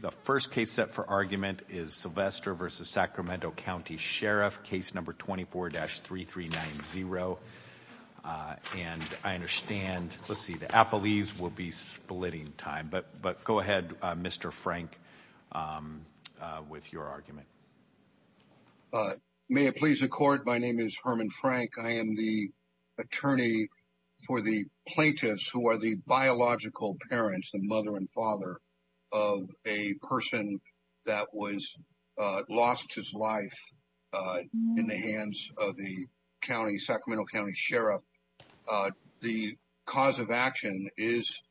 The first case set for argument is Sylvester v. Sacramento County Sheriff, case number 24-3390. And I understand, let's see, the Apolis will be splitting time, but go ahead, Mr. Frank, with your argument. May it please the Court, my name is Herman Frank. I am the attorney for the plaintiffs who are the biological parents, the mother and father of a person that lost his life in the hands of the county, Sacramento County Sheriff. The cause of action is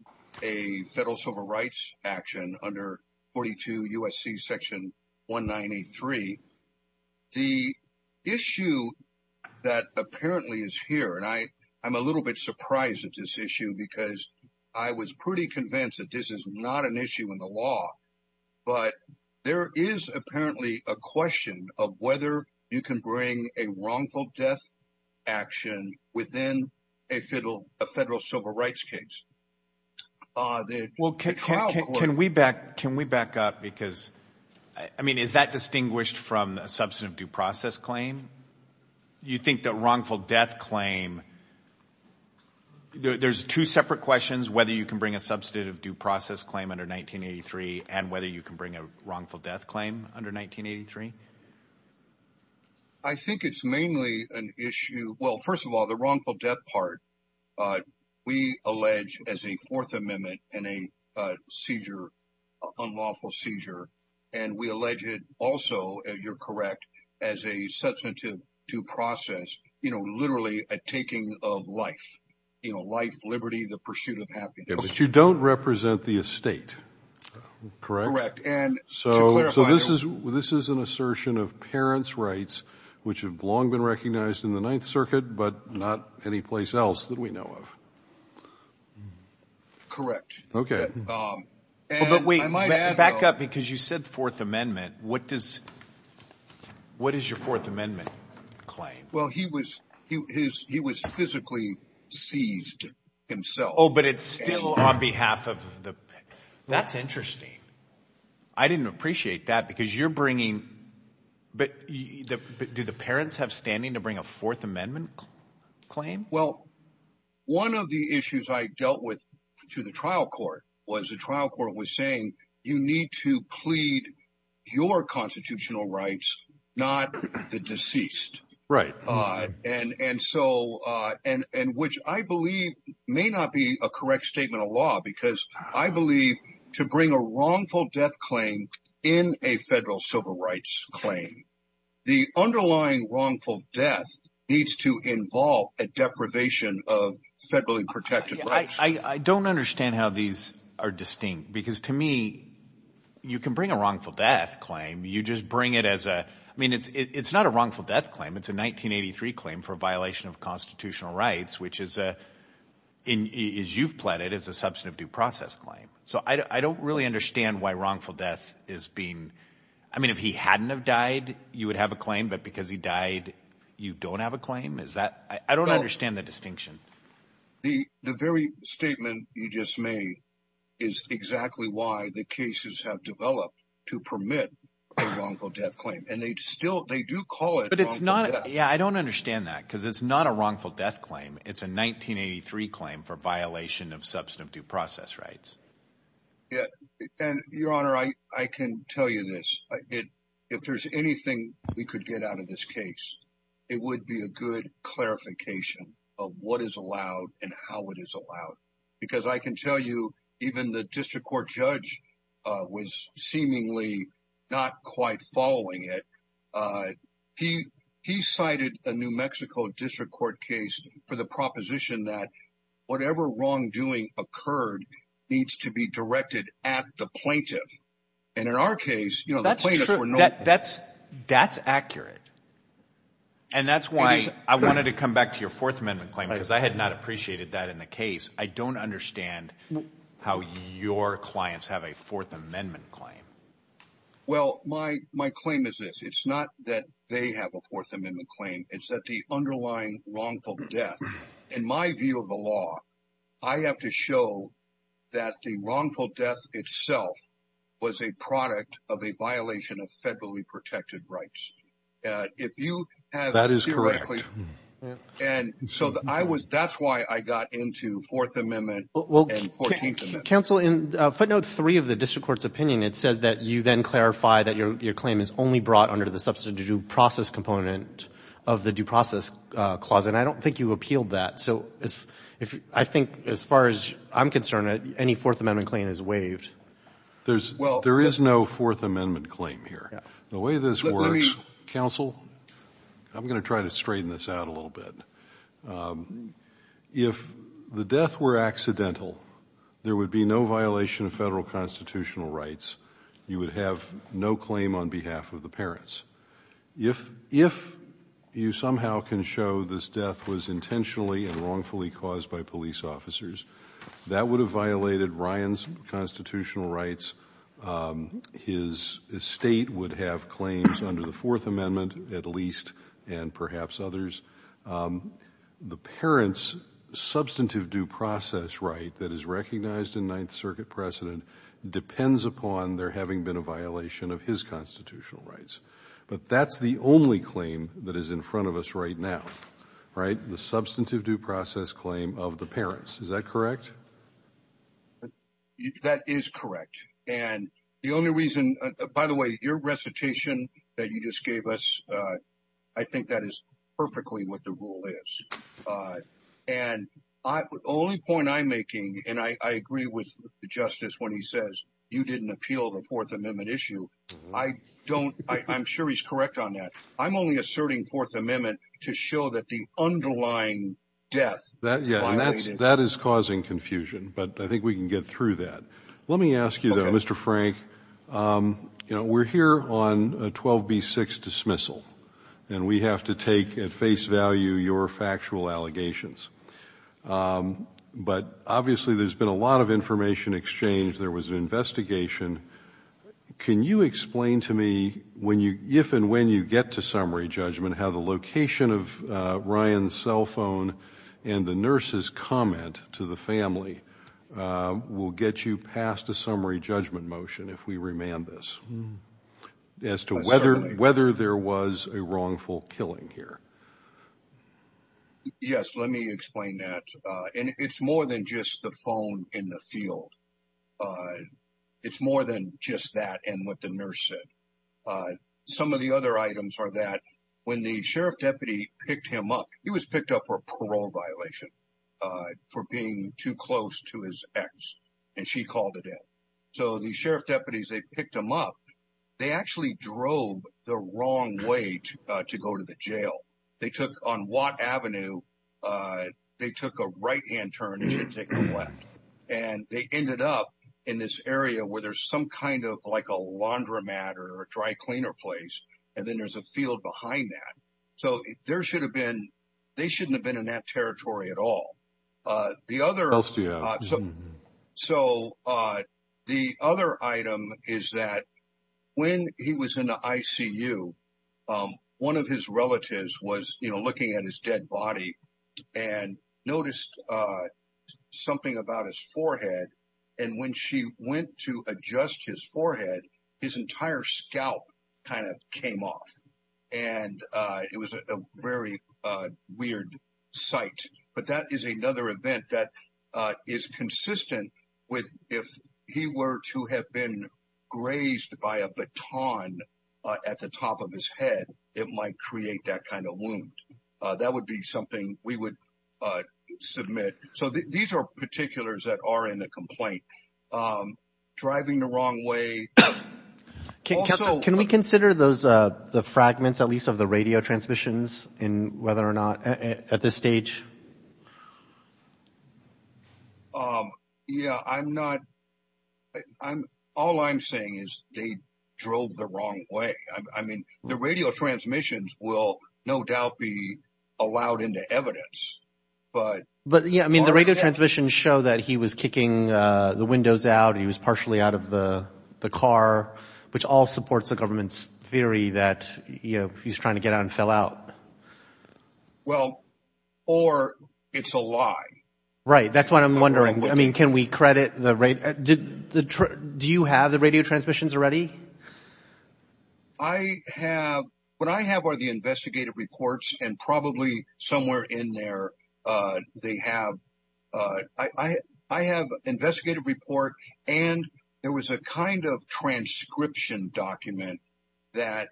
a federal civil rights action under 42 U.S.C. section 1983. The issue that apparently is here, and I'm a little bit surprised at this issue because I was pretty convinced that this is not an issue in the law, but there is apparently a question of whether you can bring a wrongful death action within a federal civil rights case. Well, can we back up because, I mean, is that distinguished from a substantive due process claim? You think that wrongful death claim, there's two separate questions, whether you can bring a substantive due process claim under 1983 and whether you can bring a wrongful death claim under 1983? I think it's mainly an issue, well, first of all, the wrongful death part. We allege as a Fourth Amendment and a seizure, unlawful seizure, and we allege it also, you're correct, as a substantive due process, you know, literally a taking of life, you know, life, liberty, the pursuit of happiness. But you don't represent the estate, correct? Correct. And so this is an assertion of parents' rights, which have long been recognized in the Ninth Circuit, but not anyplace else that we know of. Correct. Okay. But wait, back up because you said Fourth Amendment. What does, what is your Fourth Amendment claim? Well, he was, he was physically seized himself. Oh, but it's still on behalf of the, that's interesting. I didn't appreciate that because you're bringing, but do the parents have standing to bring a Fourth Amendment claim? Well, one of the issues I dealt with to the trial court was the trial court was saying, you need to plead your constitutional rights, not the deceased. Right. And, and so, and, and which I believe may not be a correct statement of law because I believe to bring a wrongful death claim in a federal civil rights claim, the underlying wrongful death needs to involve a deprivation of federally protected rights. I don't understand how these are distinct because to me, you can bring a wrongful death claim. You just bring it as a, I mean, it's, it's not a wrongful death claim. It's a 1983 claim for violation of constitutional rights, which is a, in, is you've pleaded as a substantive due process claim. So I don't really understand why wrongful death is being, I mean, if he hadn't have died, you would have a claim, but because he died, you don't have a claim. Is that, I don't understand the distinction. The, the very statement you just made is exactly why the cases have developed to permit a wrongful death claim. And they'd still, they do call it, but it's not, yeah, I don't understand that because it's not a wrongful death claim. It's a 1983 claim for violation of substantive due process rights. Yeah. And your honor, I, I can tell you this. If there's anything we could get out of this case, it would be a good clarification of what is allowed and how it is allowed. Because I can tell you, even the district court judge was seemingly not quite following it. He, he cited a New Mexico district court case for the proposition that whatever wrongdoing occurred needs to be directed at the plaintiff. And in our case, you know, that's accurate. And that's why I wanted to come back to your fourth amendment claim, because I had not appreciated that in the case. I don't understand how your clients have a fourth amendment claim. My claim is this. It's not that they have a fourth amendment claim. It's that the underlying wrongful death, in my view of the law, I have to show that the wrongful death itself was a product of a violation of federally protected rights. If you have, and so I was, that's why I got into fourth amendment and 14th amendment. Counsel, in footnote three of the brought under the substitute due process component of the due process clause. And I don't think you appealed that. So if, I think as far as I'm concerned, any fourth amendment claim is waived. There's, there is no fourth amendment claim here. The way this works, counsel, I'm going to try to straighten this out a little bit. If the death were accidental, there would be no violation of federal constitutional rights. You would have no claim on behalf of the parents. If, if you somehow can show this death was intentionally and wrongfully caused by police officers, that would have violated Ryan's constitutional rights. His state would have claims under the fourth amendment, at least, and perhaps others. The parents substantive due process right that is recognized in ninth circuit precedent depends upon there having been a violation of his constitutional rights. But that's the only claim that is in front of us right now, right? The substantive due process claim of the parents. Is that correct? That is correct. And the only reason, by the way, your recitation that you just gave us, I think that is perfectly what the rule is. And I, only point I'm making, and I agree with the justice when he says you didn't appeal the fourth amendment issue. I don't, I'm sure he's correct on that. I'm only asserting fourth amendment to show that the underlying death. That, yeah, that's, that is causing confusion, but I think we can get through that. Let me ask you though, Mr. Frank, you know, we're here on a 12B6 dismissal and we have to take at face value your factual allegations. But obviously there's been a lot of information exchanged. There was an investigation. Can you explain to me when you, if and when you get to summary judgment, how the location of Ryan's cell phone and the nurse's comment to the family will get you past a summary judgment motion, if we remand this as to whether, whether there was a wrongful killing here? Yes, let me explain that. And it's more than just the phone in the field. It's more than just that and what the nurse said. Some of the other items are that when the sheriff deputy picked him up, he was picked up for parole violation for being too close to his ex and she called it in. So the sheriff deputies, they picked him up. They actually drove the wrong way to go to the jail. They took on Watt Avenue. They took a right hand turn and should take a left. And they ended up in this area where there's some kind of like a laundromat or a dry cleaner place. And then there's a field behind that. So there should have been, they shouldn't have been in that territory at all. So the other item is that when he was in the ICU, one of his relatives was looking at his dead body and noticed something about his forehead. And when she went to adjust his forehead, his entire scalp kind of came off and it was a very weird sight. But that is another event that is consistent with if he were to have been grazed by a baton at the top of his head, it might create that kind of wound. That would be something we would submit. So these are the two particulars that are in the complaint. Driving the wrong way. Can we consider those the fragments at least of the radio transmissions in whether or not at this stage? Yeah, I'm not. All I'm saying is they drove the wrong way. I mean, the radio transmissions will no doubt be allowed into evidence. But yeah, I mean, the radio transmissions show that he was kicking the windows out. He was partially out of the car, which all supports the government's theory that he's trying to get out and fill out. Well, or it's a lie, right? That's what I'm wondering. I mean, can we credit the right? Do you have the radio transmissions already? I have what I have are the investigative reports and probably somewhere in there they have. I have investigative report and there was a kind of transcription document that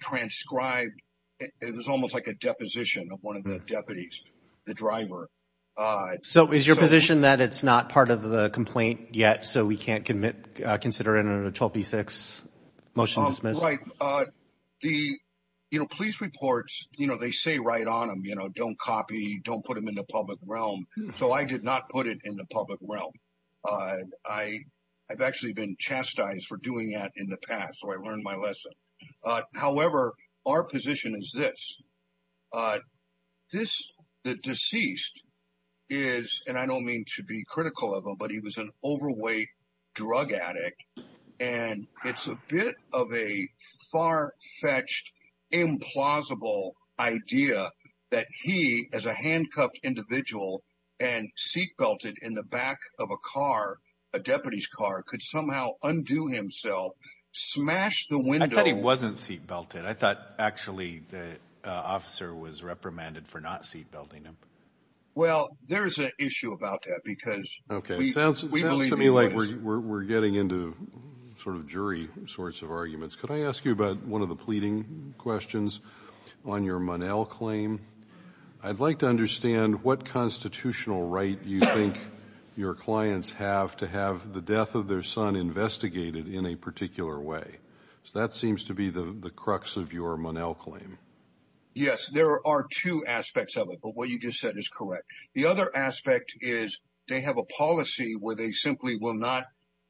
transcribed. It was almost like a deposition of one of the deputies, the driver. So is your position that it's not part of the complaint yet? So we can't commit, consider it a 12B6? Motion is right. The police reports, you know, they say right on them, you know, don't copy, don't put them in the public realm. So I did not put it in the public realm. I've actually been chastised for doing that in the past. So I learned my lesson. However, our position is this. This deceased is and I don't mean to be critical of him, but he was an overweight drug addict and it's a bit of a far fetched, implausible idea that he as a handcuffed individual and seat belted in the back of a car, a deputy's car could somehow undo himself, smash the window. I thought he wasn't seat belted. I thought actually the officer was reprimanded for not seat belting him. Well, there's an issue about that because we believe he was. Sounds to me like we're getting into sort of jury sorts of arguments. Could I ask you about one of the pleading questions on your Monell claim? I'd like to understand what constitutional right you think your clients have to have the death of their son investigated in a particular way. So that seems to be the crux of your Monell claim. Yes, there are two aspects of it, but what you just said is correct. The other aspect is they have a policy where they simply will not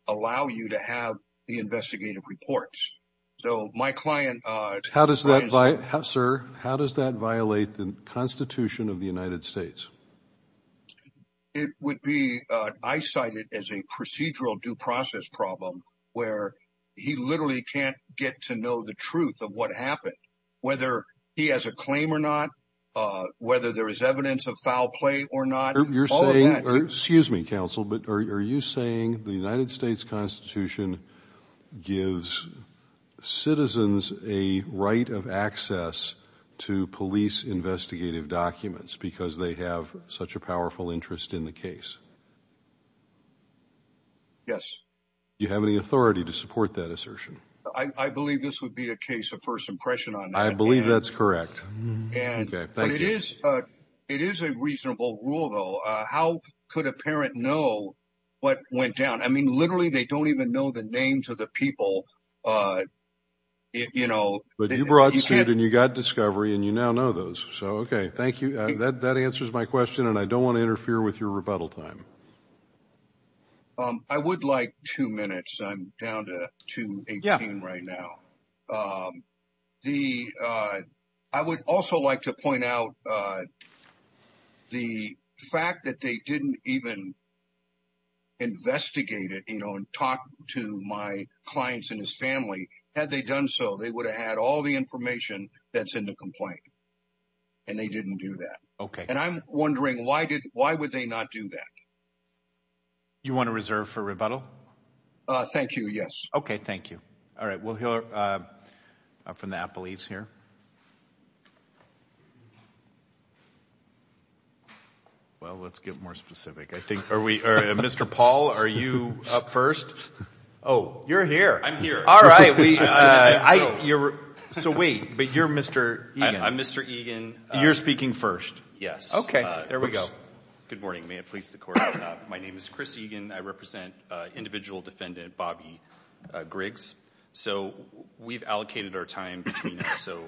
allow you to have the investigative reports. So my client, sir, how does that violate the constitution of the United States? It would be, I cite it as a procedural due process problem where he literally can't get to know the of what happened, whether he has a claim or not, whether there is evidence of foul play or not. Excuse me, counsel, but are you saying the United States constitution gives citizens a right of access to police investigative documents because they have such a powerful interest in the case? Yes. You have any authority to support that assertion? I believe this would be a case of first impression. I believe that's correct. It is a reasonable rule, though. How could a parent know what went down? I mean, literally, they don't even know the names of the people. You know, but you brought it and you got discovery and you now know those. So, OK, thank you. That answers my question. And I don't want to interfere with your rebuttal time. I would like two minutes. I'm down to two right now. The I would also like to point out the fact that they didn't even. Investigate it, you know, and talk to my clients and his family, had they done so, they would have had all the information that's in the complaint. And they didn't do that. OK, and I'm wondering why did why would they not do that? You want to reserve for rebuttal? Thank you. Yes. OK, thank you. All right. Well, from the police here. Well, let's get more specific, I think. Are we Mr. Paul? Are you up first? Oh, you're here. I'm here. All right. So wait, but you're Mr. Mr. Egan. You're speaking first. Yes. OK, there we go. Good morning. May it please the court. My name is Chris Egan. I represent individual defendant Bobby Griggs. So we've allocated our time. So,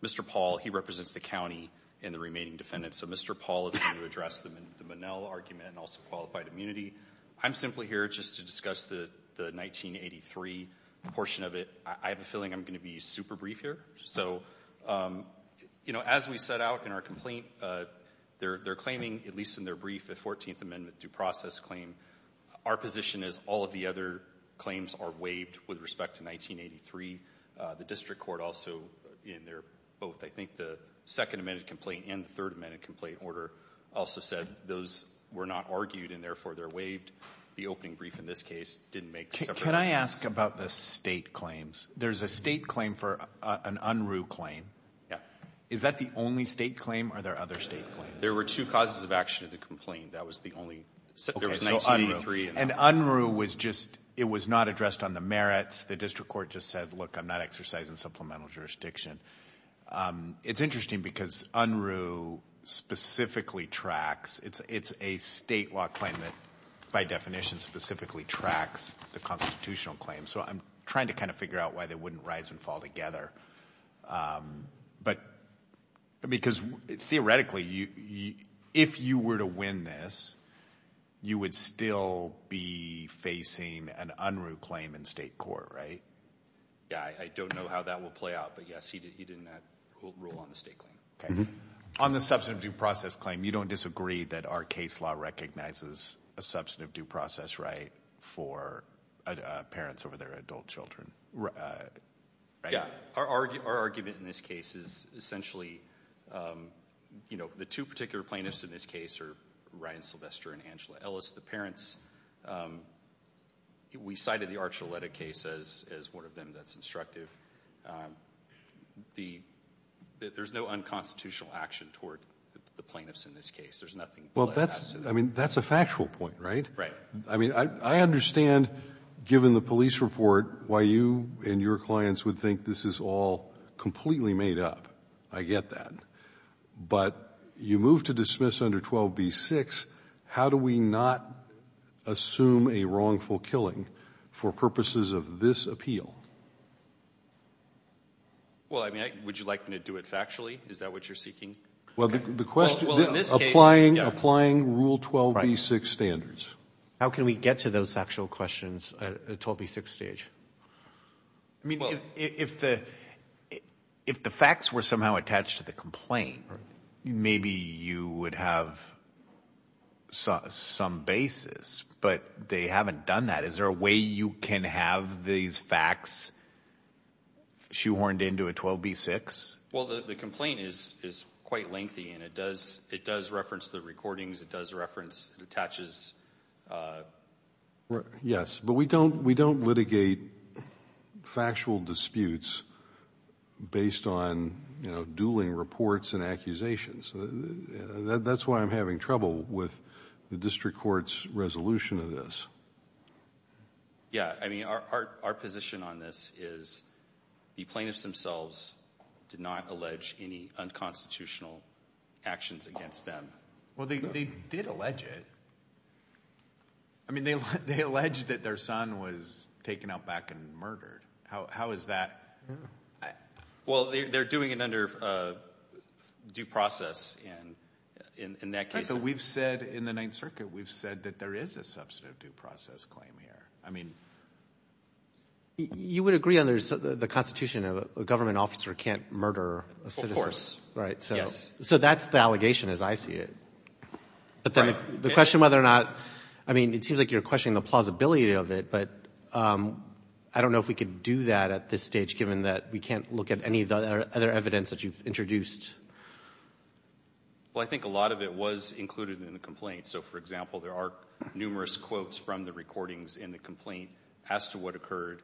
Mr. Paul, he represents the county in the remaining defendant. So Mr. Paul is going to address them in the Monell argument and also qualified immunity. I'm simply here just to discuss the 1983 portion of it. I have a feeling I'm going to be super brief here. So, you know, as we said, our complaint, they're claiming, at least in their brief, a 14th Amendment due process claim. Our position is all of the other claims are waived with respect to 1983. The district court also, in their both, I think the second amendment complaint and the third amendment complaint order also said those were not argued and therefore they're waived. The opening brief in this case didn't make. Can I ask about the state claims? There's a state claim for an UNRU claim. Is that the only state claim or are there other state claims? There were two causes of action of the complaint. That was the only. And UNRU was just it was not addressed on the merits. The district court just said, look, I'm not exercising supplemental jurisdiction. It's interesting because UNRU specifically tracks it's a state law claim that by definition specifically tracks the constitutional claim. So I'm trying to kind of figure out why they wouldn't rise and fall together. But because theoretically, if you were to win this, you would still be facing an UNRU claim in state court, right? Yeah, I don't know how that will play out. But yes, he did. He didn't rule on the state claim on the substantive due process claim. You don't disagree that our case law recognizes a substantive due process right for parents over adult children. Our argument in this case is essentially, you know, the two particular plaintiffs in this case are Ryan Sylvester and Angela Ellis, the parents. We cited the Archuleta case as one of them that's instructive. There's no unconstitutional action toward the plaintiffs in this case. There's nothing. Well, that's I mean, that's a factual point, right? Right. I mean, I understand, given the police report, why you and your clients would think this is all completely made up. I get that. But you move to dismiss under 12b-6. How do we not assume a wrongful killing for purposes of this appeal? Well, I mean, would you like me to do it factually? Is that what you're seeking? Well, the question is applying rule 12b-6 standards. How can we get to those actual questions at a 12b-6 stage? I mean, if the facts were somehow attached to the complaint, maybe you would have some basis, but they haven't done that. Is there a way you can have these facts shoehorned into a 12b-6? Well, the complaint is quite lengthy, and it does reference the recordings. It does reference, it attaches. Yes, but we don't litigate factual disputes based on dueling reports and accusations. That's why I'm having trouble with the district court's resolution of this. Yeah, I mean, our position on this is the plaintiffs themselves did not allege any unconstitutional actions against them. Well, they did allege it. I mean, they allege that their son was taken out back and murdered. How is that? Well, they're doing it under due process, and in that case... In the Ninth Circuit, we've said that there is a substantive due process claim here. You would agree under the Constitution a government officer can't murder a citizen, right? Of course, yes. So that's the allegation as I see it, but then the question whether or not, I mean, it seems like you're questioning the plausibility of it, but I don't know if we could do that at this stage, given that we can't look at any of the other evidence that you've introduced. Well, I think a lot of it was included in the complaint. So, for example, there are numerous quotes from the recordings in the complaint as to what occurred.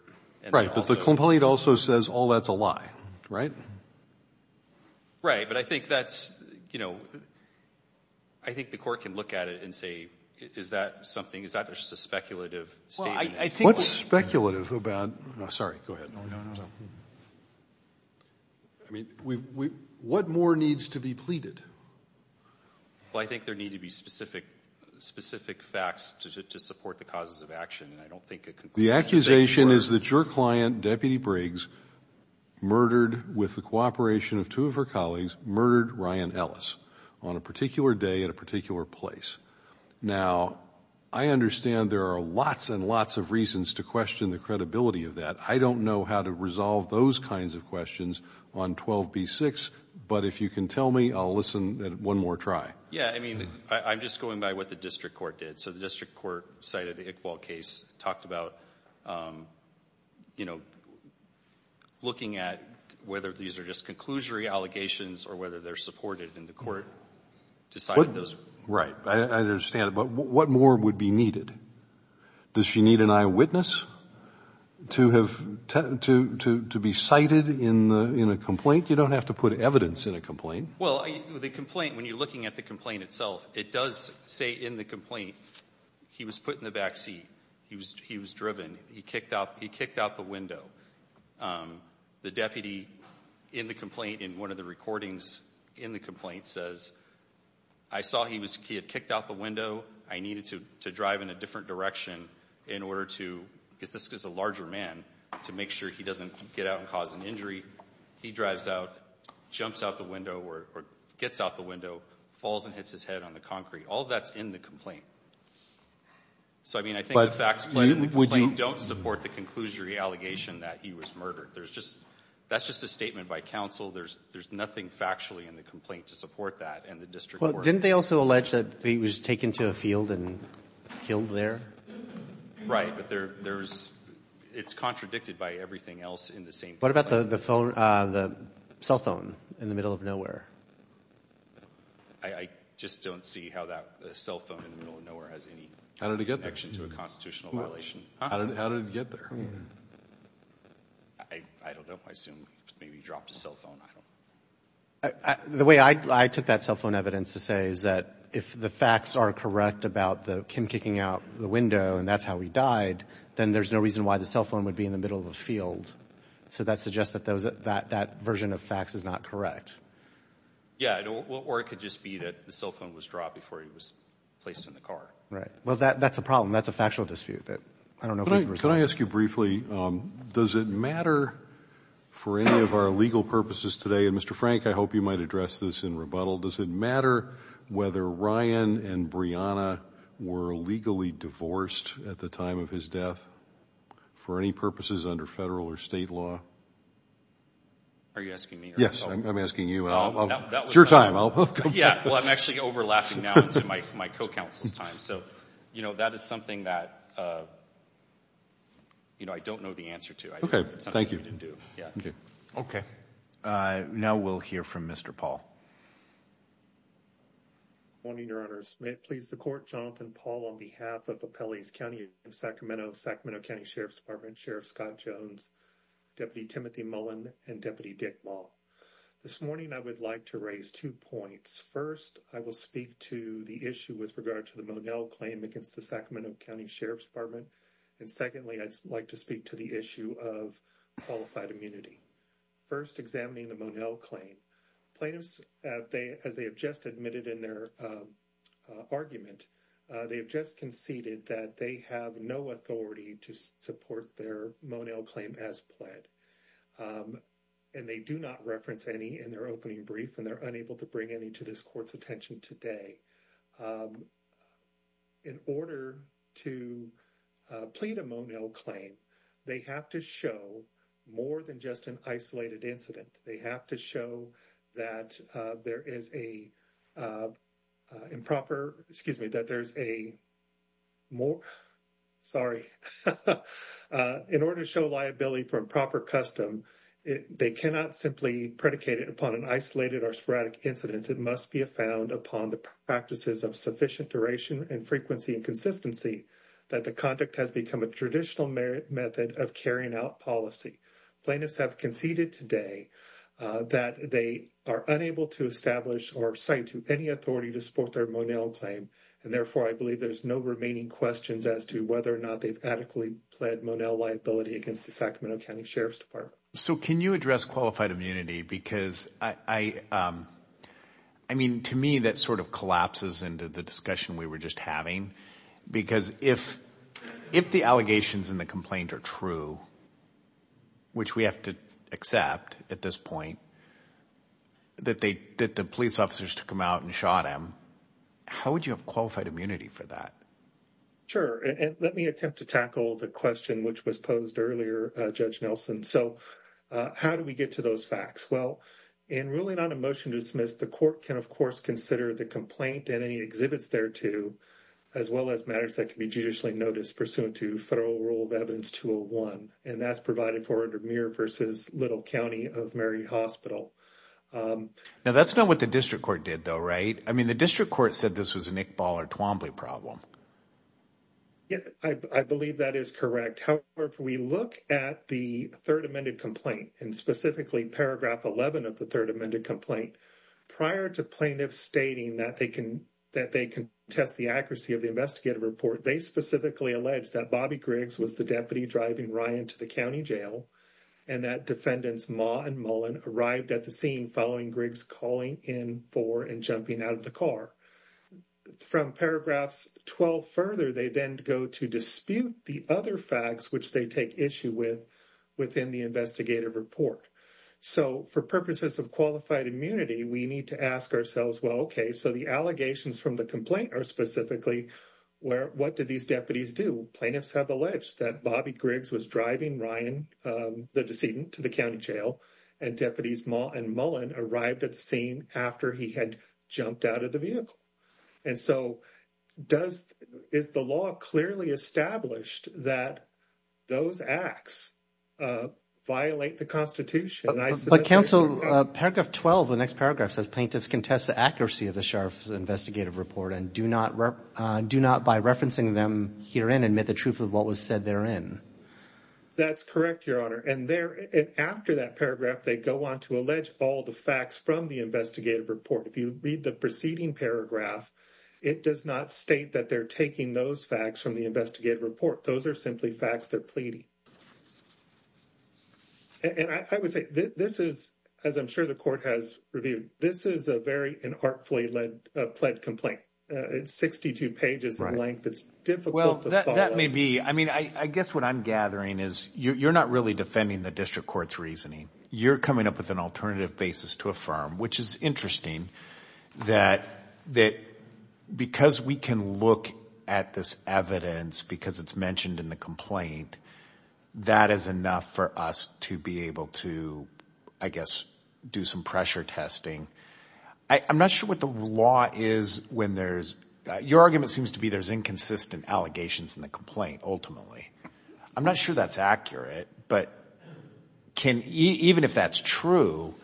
Right, but the complaint also says all that's a lie, right? Right, but I think that's, you know, I think the court can look at it and say, is that something, is that just a speculative statement? What's speculative about... No, sorry, go ahead. No, no, no, no. I mean, what more needs to be pleaded? Well, I think there need to be specific facts to support the causes of action, and I don't think a complaint... The accusation is that your client, Deputy Briggs, murdered with the cooperation of two of her colleagues, murdered Ryan Ellis on a particular day at a particular place. Now, I understand there are lots and lots of reasons to question the credibility of that. I don't know how to resolve those kinds of questions on 12b-6, but if you can tell me, I'll listen one more try. Yeah, I mean, I'm just going by what the district court did. So the district court cited the Iqbal case, talked about, you know, looking at whether these are just conclusory allegations or whether they're supported, and the court decided those were. Right, I understand, but what more would be needed? Does she need an eyewitness to be cited in a complaint? You don't have to put evidence in a complaint. Well, the complaint, when you're looking at the complaint itself, it does say in the complaint, he was put in the backseat, he was driven, he kicked out the window. The deputy in the complaint, in one of the recordings in the complaint, says, I saw he had kicked out the window, I needed to drive in a different direction in order to, because this is a larger man, to make sure he doesn't get out and cause an injury. He drives out, jumps out the window or gets out the window, falls and hits his head on the concrete. All of that's in the complaint. So, I mean, I think the facts in the complaint don't support the conclusory allegation that he was murdered. There's just, that's just a statement by counsel. There's nothing factually in the complaint to support that and the district court. Didn't they also allege that he was taken to a field and killed there? Right. But there's, it's contradicted by everything else in the same. What about the phone, the cell phone in the middle of nowhere? I just don't see how that cell phone in the middle of nowhere has any connection to a constitutional violation. How did it get there? I don't know. I assume maybe he dropped a cell phone. I don't know. The way I took that cell phone evidence to say is that if the facts are correct about Kim kicking out the window and that's how he died, then there's no reason why the cell phone would be in the middle of a field. So that suggests that that version of facts is not correct. Yeah. Or it could just be that the cell phone was dropped before he was placed in the car. Right. Well, that's a problem. That's a factual dispute. Can I ask you briefly, does it matter for any of our legal purposes today, and Mr. Frank, I hope you might address this in rebuttal, does it matter whether Ryan and Brianna were legally divorced at the time of his death for any purposes under federal or state law? Are you asking me? Yes, I'm asking you. It's your time. Yeah. Well, I'm actually overlapping now into my co-counsel's time. So, you know, that is something that, you know, I don't know the answer to. Okay. Thank you. Okay. Now we'll hear from Mr. Paul. Morning, Your Honor. May it please the Court, Jonathan Paul on behalf of Appellees County of Sacramento, Sacramento County Sheriff's Department, Sheriff Scott Jones, Deputy Timothy Mullen, and Deputy Dick Maul. This morning, I would like to raise two points. First, I will speak to the issue with regard to the Monell claim against the Sacramento County Sheriff's Department. And secondly, I'd like to speak to the issue of qualified immunity. First, examining the Monell claim. Plaintiffs, as they have just admitted in their argument, they have just conceded that they have no authority to support their Monell claim as pled. And they do not reference any in their opening brief, and they're unable to bring any to this Court's attention today. In order to plead a Monell claim, they have to show more than just an isolated incident. They have to show that there is a improper, excuse me, that there's a more, sorry. In order to show liability for improper custom, they cannot simply predicate it upon an isolated or sporadic incidents. It must be found upon the practices of sufficient duration and frequency and consistency that the conduct has become a traditional method of carrying out policy. Plaintiffs have conceded today that they are unable to establish or cite to any authority to support their Monell claim. And therefore, I believe there's no remaining questions as to whether or not they've adequately pled Monell liability against the Sacramento County Sheriff's Department. So can you address qualified immunity? Because I mean, to me, that sort of collapses into the discussion we were just having. Because if the allegations in the complaint are true, which we have to accept at this point, that the police officers took him out and shot him, how would you have qualified immunity for that? Sure. And let me attempt to tackle the question which was posed earlier, Judge Nelson. So how do we get to those facts? Well, in ruling on a motion to dismiss, the court can, of course, consider the complaint and any exhibits thereto, as well as matters that can be judicially noticed pursuant to Federal Rule of Evidence 201. And that's provided for under Muir v. Little County of Mary Hospital. Now, that's not what the district court did though, right? I mean, the district court said this was an Iqbal or Twombly problem. Yeah, I believe that is correct. However, if we look at the third amended complaint, and specifically paragraph 11 of the third amended complaint, prior to plaintiffs stating that they can test the accuracy of the investigative report, they specifically alleged that Bobby Griggs was the deputy driving Ryan to the county jail, and that defendants Maugh and Mullen arrived at the scene following Griggs calling in and jumping out of the car. From paragraphs 12 further, they then go to dispute the other facts which they take issue with within the investigative report. So for purposes of qualified immunity, we need to ask ourselves, well, okay, so the allegations from the complaint are specifically where, what did these deputies do? Plaintiffs have alleged that Bobby Griggs was driving Ryan, the decedent, to the county jail, and deputies Maugh and Mullen arrived at the scene after he had jumped out of the vehicle. And so, does, is the law clearly established that those acts violate the Constitution? But counsel, paragraph 12, the next paragraph, says plaintiffs can test the accuracy of the sheriff's investigative report and do not, do not by referencing them herein admit the truth of what was said therein. That's correct, your honor. And there, and after that paragraph, they go on to allege all the facts from the investigative report. If you read the preceding paragraph, it does not state that they're taking those facts from the investigative report. Those are simply facts they're pleading. And I would say this is, as I'm sure the court has reviewed, this is a very, an artfully led, a pled complaint. It's 62 pages in length. It's difficult to follow. Well, that may be. I mean, I guess what I'm gathering is you're not really defending the district court's reasoning. You're coming up with an alternative basis to affirm, which is interesting that, that because we can look at this evidence because it's mentioned in the complaint, that is enough for us to be able to, I guess, do some pressure testing. I'm not sure what the law is when there's, your argument seems to be there's inconsistent allegations in the complaint, ultimately. I'm not sure that's accurate, but can, even if that's true,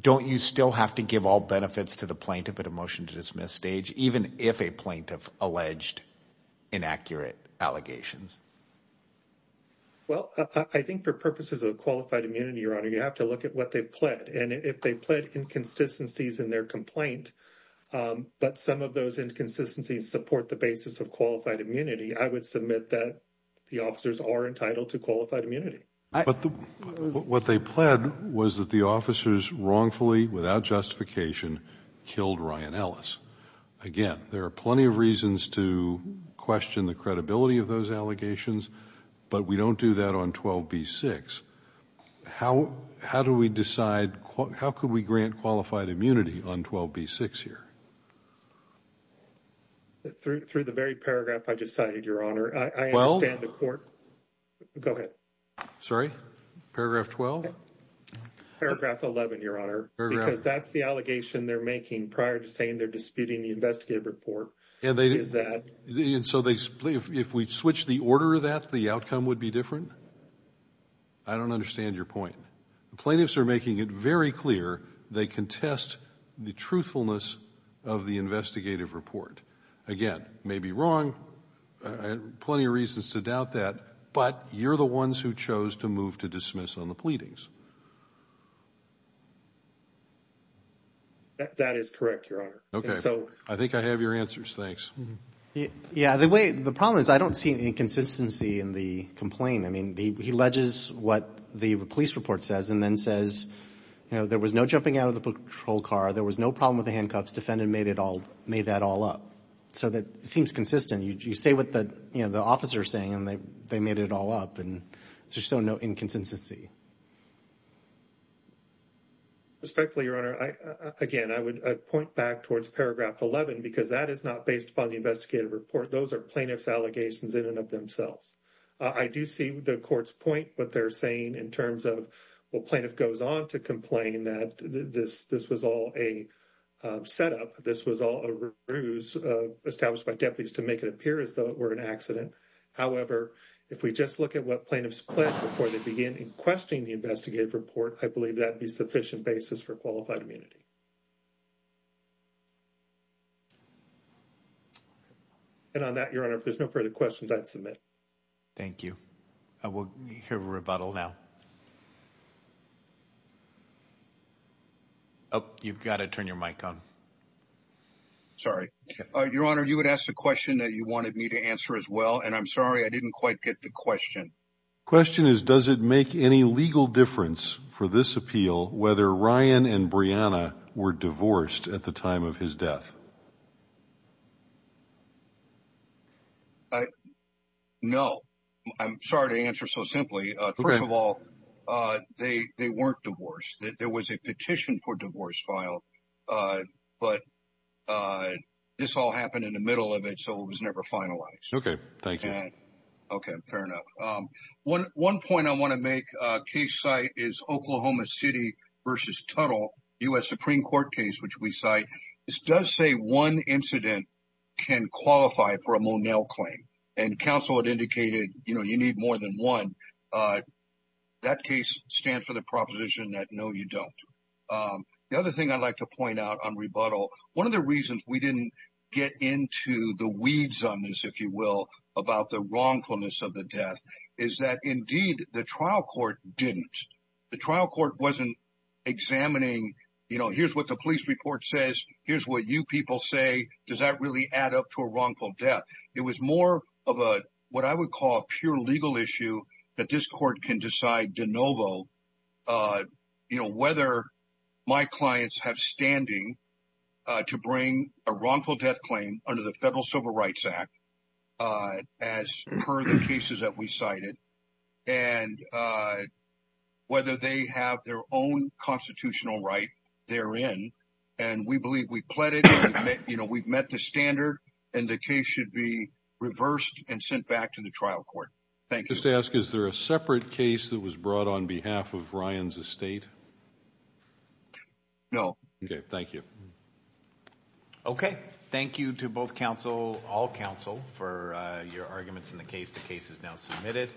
don't you still have to give all benefits to the plaintiff at a motion to dismiss stage, even if a plaintiff alleged inaccurate allegations? Well, I think for purposes of qualified immunity, your honor, you have to look at what they pled. And if they pled inconsistencies in their complaint, but some of those inconsistencies support the basis of qualified immunity, I would submit that the officers are entitled to qualified immunity. What they pled was that the officers wrongfully, without justification, killed Ryan Ellis. Again, there are plenty of reasons to question the credibility of those How could we grant qualified immunity on 12B6 here? Through the very paragraph I just cited, your honor, I understand the court. Go ahead. Sorry, paragraph 12. Paragraph 11, your honor, because that's the allegation they're making prior to saying they're disputing the investigative report. And they did that. And so they, if we switch the order of that, the outcome would be different. I don't understand your point. The plaintiffs are making it very clear. They contest the truthfulness of the investigative report. Again, maybe wrong. Plenty of reasons to doubt that. But you're the ones who chose to move to dismiss on the pleadings. That is correct, your honor. Okay, so I think I have your answers. Thanks. Yeah, the way the problem is, I don't see any inconsistency in the complaint. He alleges what the police report says, and then says, there was no jumping out of the patrol car. There was no problem with the handcuffs. Defendant made that all up. So that seems consistent. You say what the officer is saying, and they made it all up. And there's just no inconsistency. Respectfully, your honor, again, I would point back towards paragraph 11, because that is not based upon the investigative report. Those are plaintiff's allegations in and of themselves. I do see the court's point, what they're saying in terms of, well, plaintiff goes on to complain that this was all a setup. This was all a ruse established by deputies to make it appear as though it were an accident. However, if we just look at what plaintiffs pledged before they begin in questioning the investigative report, I believe that'd be sufficient basis for qualified immunity. And on that, your honor, if there's no further questions, I'd submit. Thank you. I will hear a rebuttal now. Oh, you've got to turn your mic on. Sorry, your honor, you would ask the question that you wanted me to answer as well. And I'm sorry, I didn't quite get the question. Question is, does it make any legal difference for this appeal, whether Ryan and Brianna were divorced at the time of his death? I, no, I'm sorry to answer so simply. First of all, they weren't divorced. There was a petition for divorce file, but this all happened in the middle of it. So it was never finalized. Okay, thank you. And okay, fair enough. One point I want to make, case site is Oklahoma City versus Tunnel, US Supreme Court case, which we cite. This does say one incident can qualify for a Monell claim. And counsel had indicated, you need more than one. That case stands for the proposition that no, you don't. The other thing I'd like to point out on rebuttal, one of the reasons we didn't get into the weeds on this, if you will, about the wrongfulness of the death is that indeed the trial court didn't. The trial court wasn't examining, here's what the police report says. Here's what you people say. Does that really add up to a wrongful death? It was more of what I would call a pure legal issue that this court can decide de novo. Whether my clients have standing to bring a wrongful death claim under the Federal Civil Rights Act as per the cases that we cited. And whether they have their own constitutional right therein. And we believe we've pledged, we've met the standard, and the case should be reversed and sent back to the trial court. Thank you. Just to ask, is there a separate case that was brought on behalf of Ryan's estate? No. Okay, thank you. Okay, thank you to both counsel, all counsel for your arguments in the case. The case is now submitted.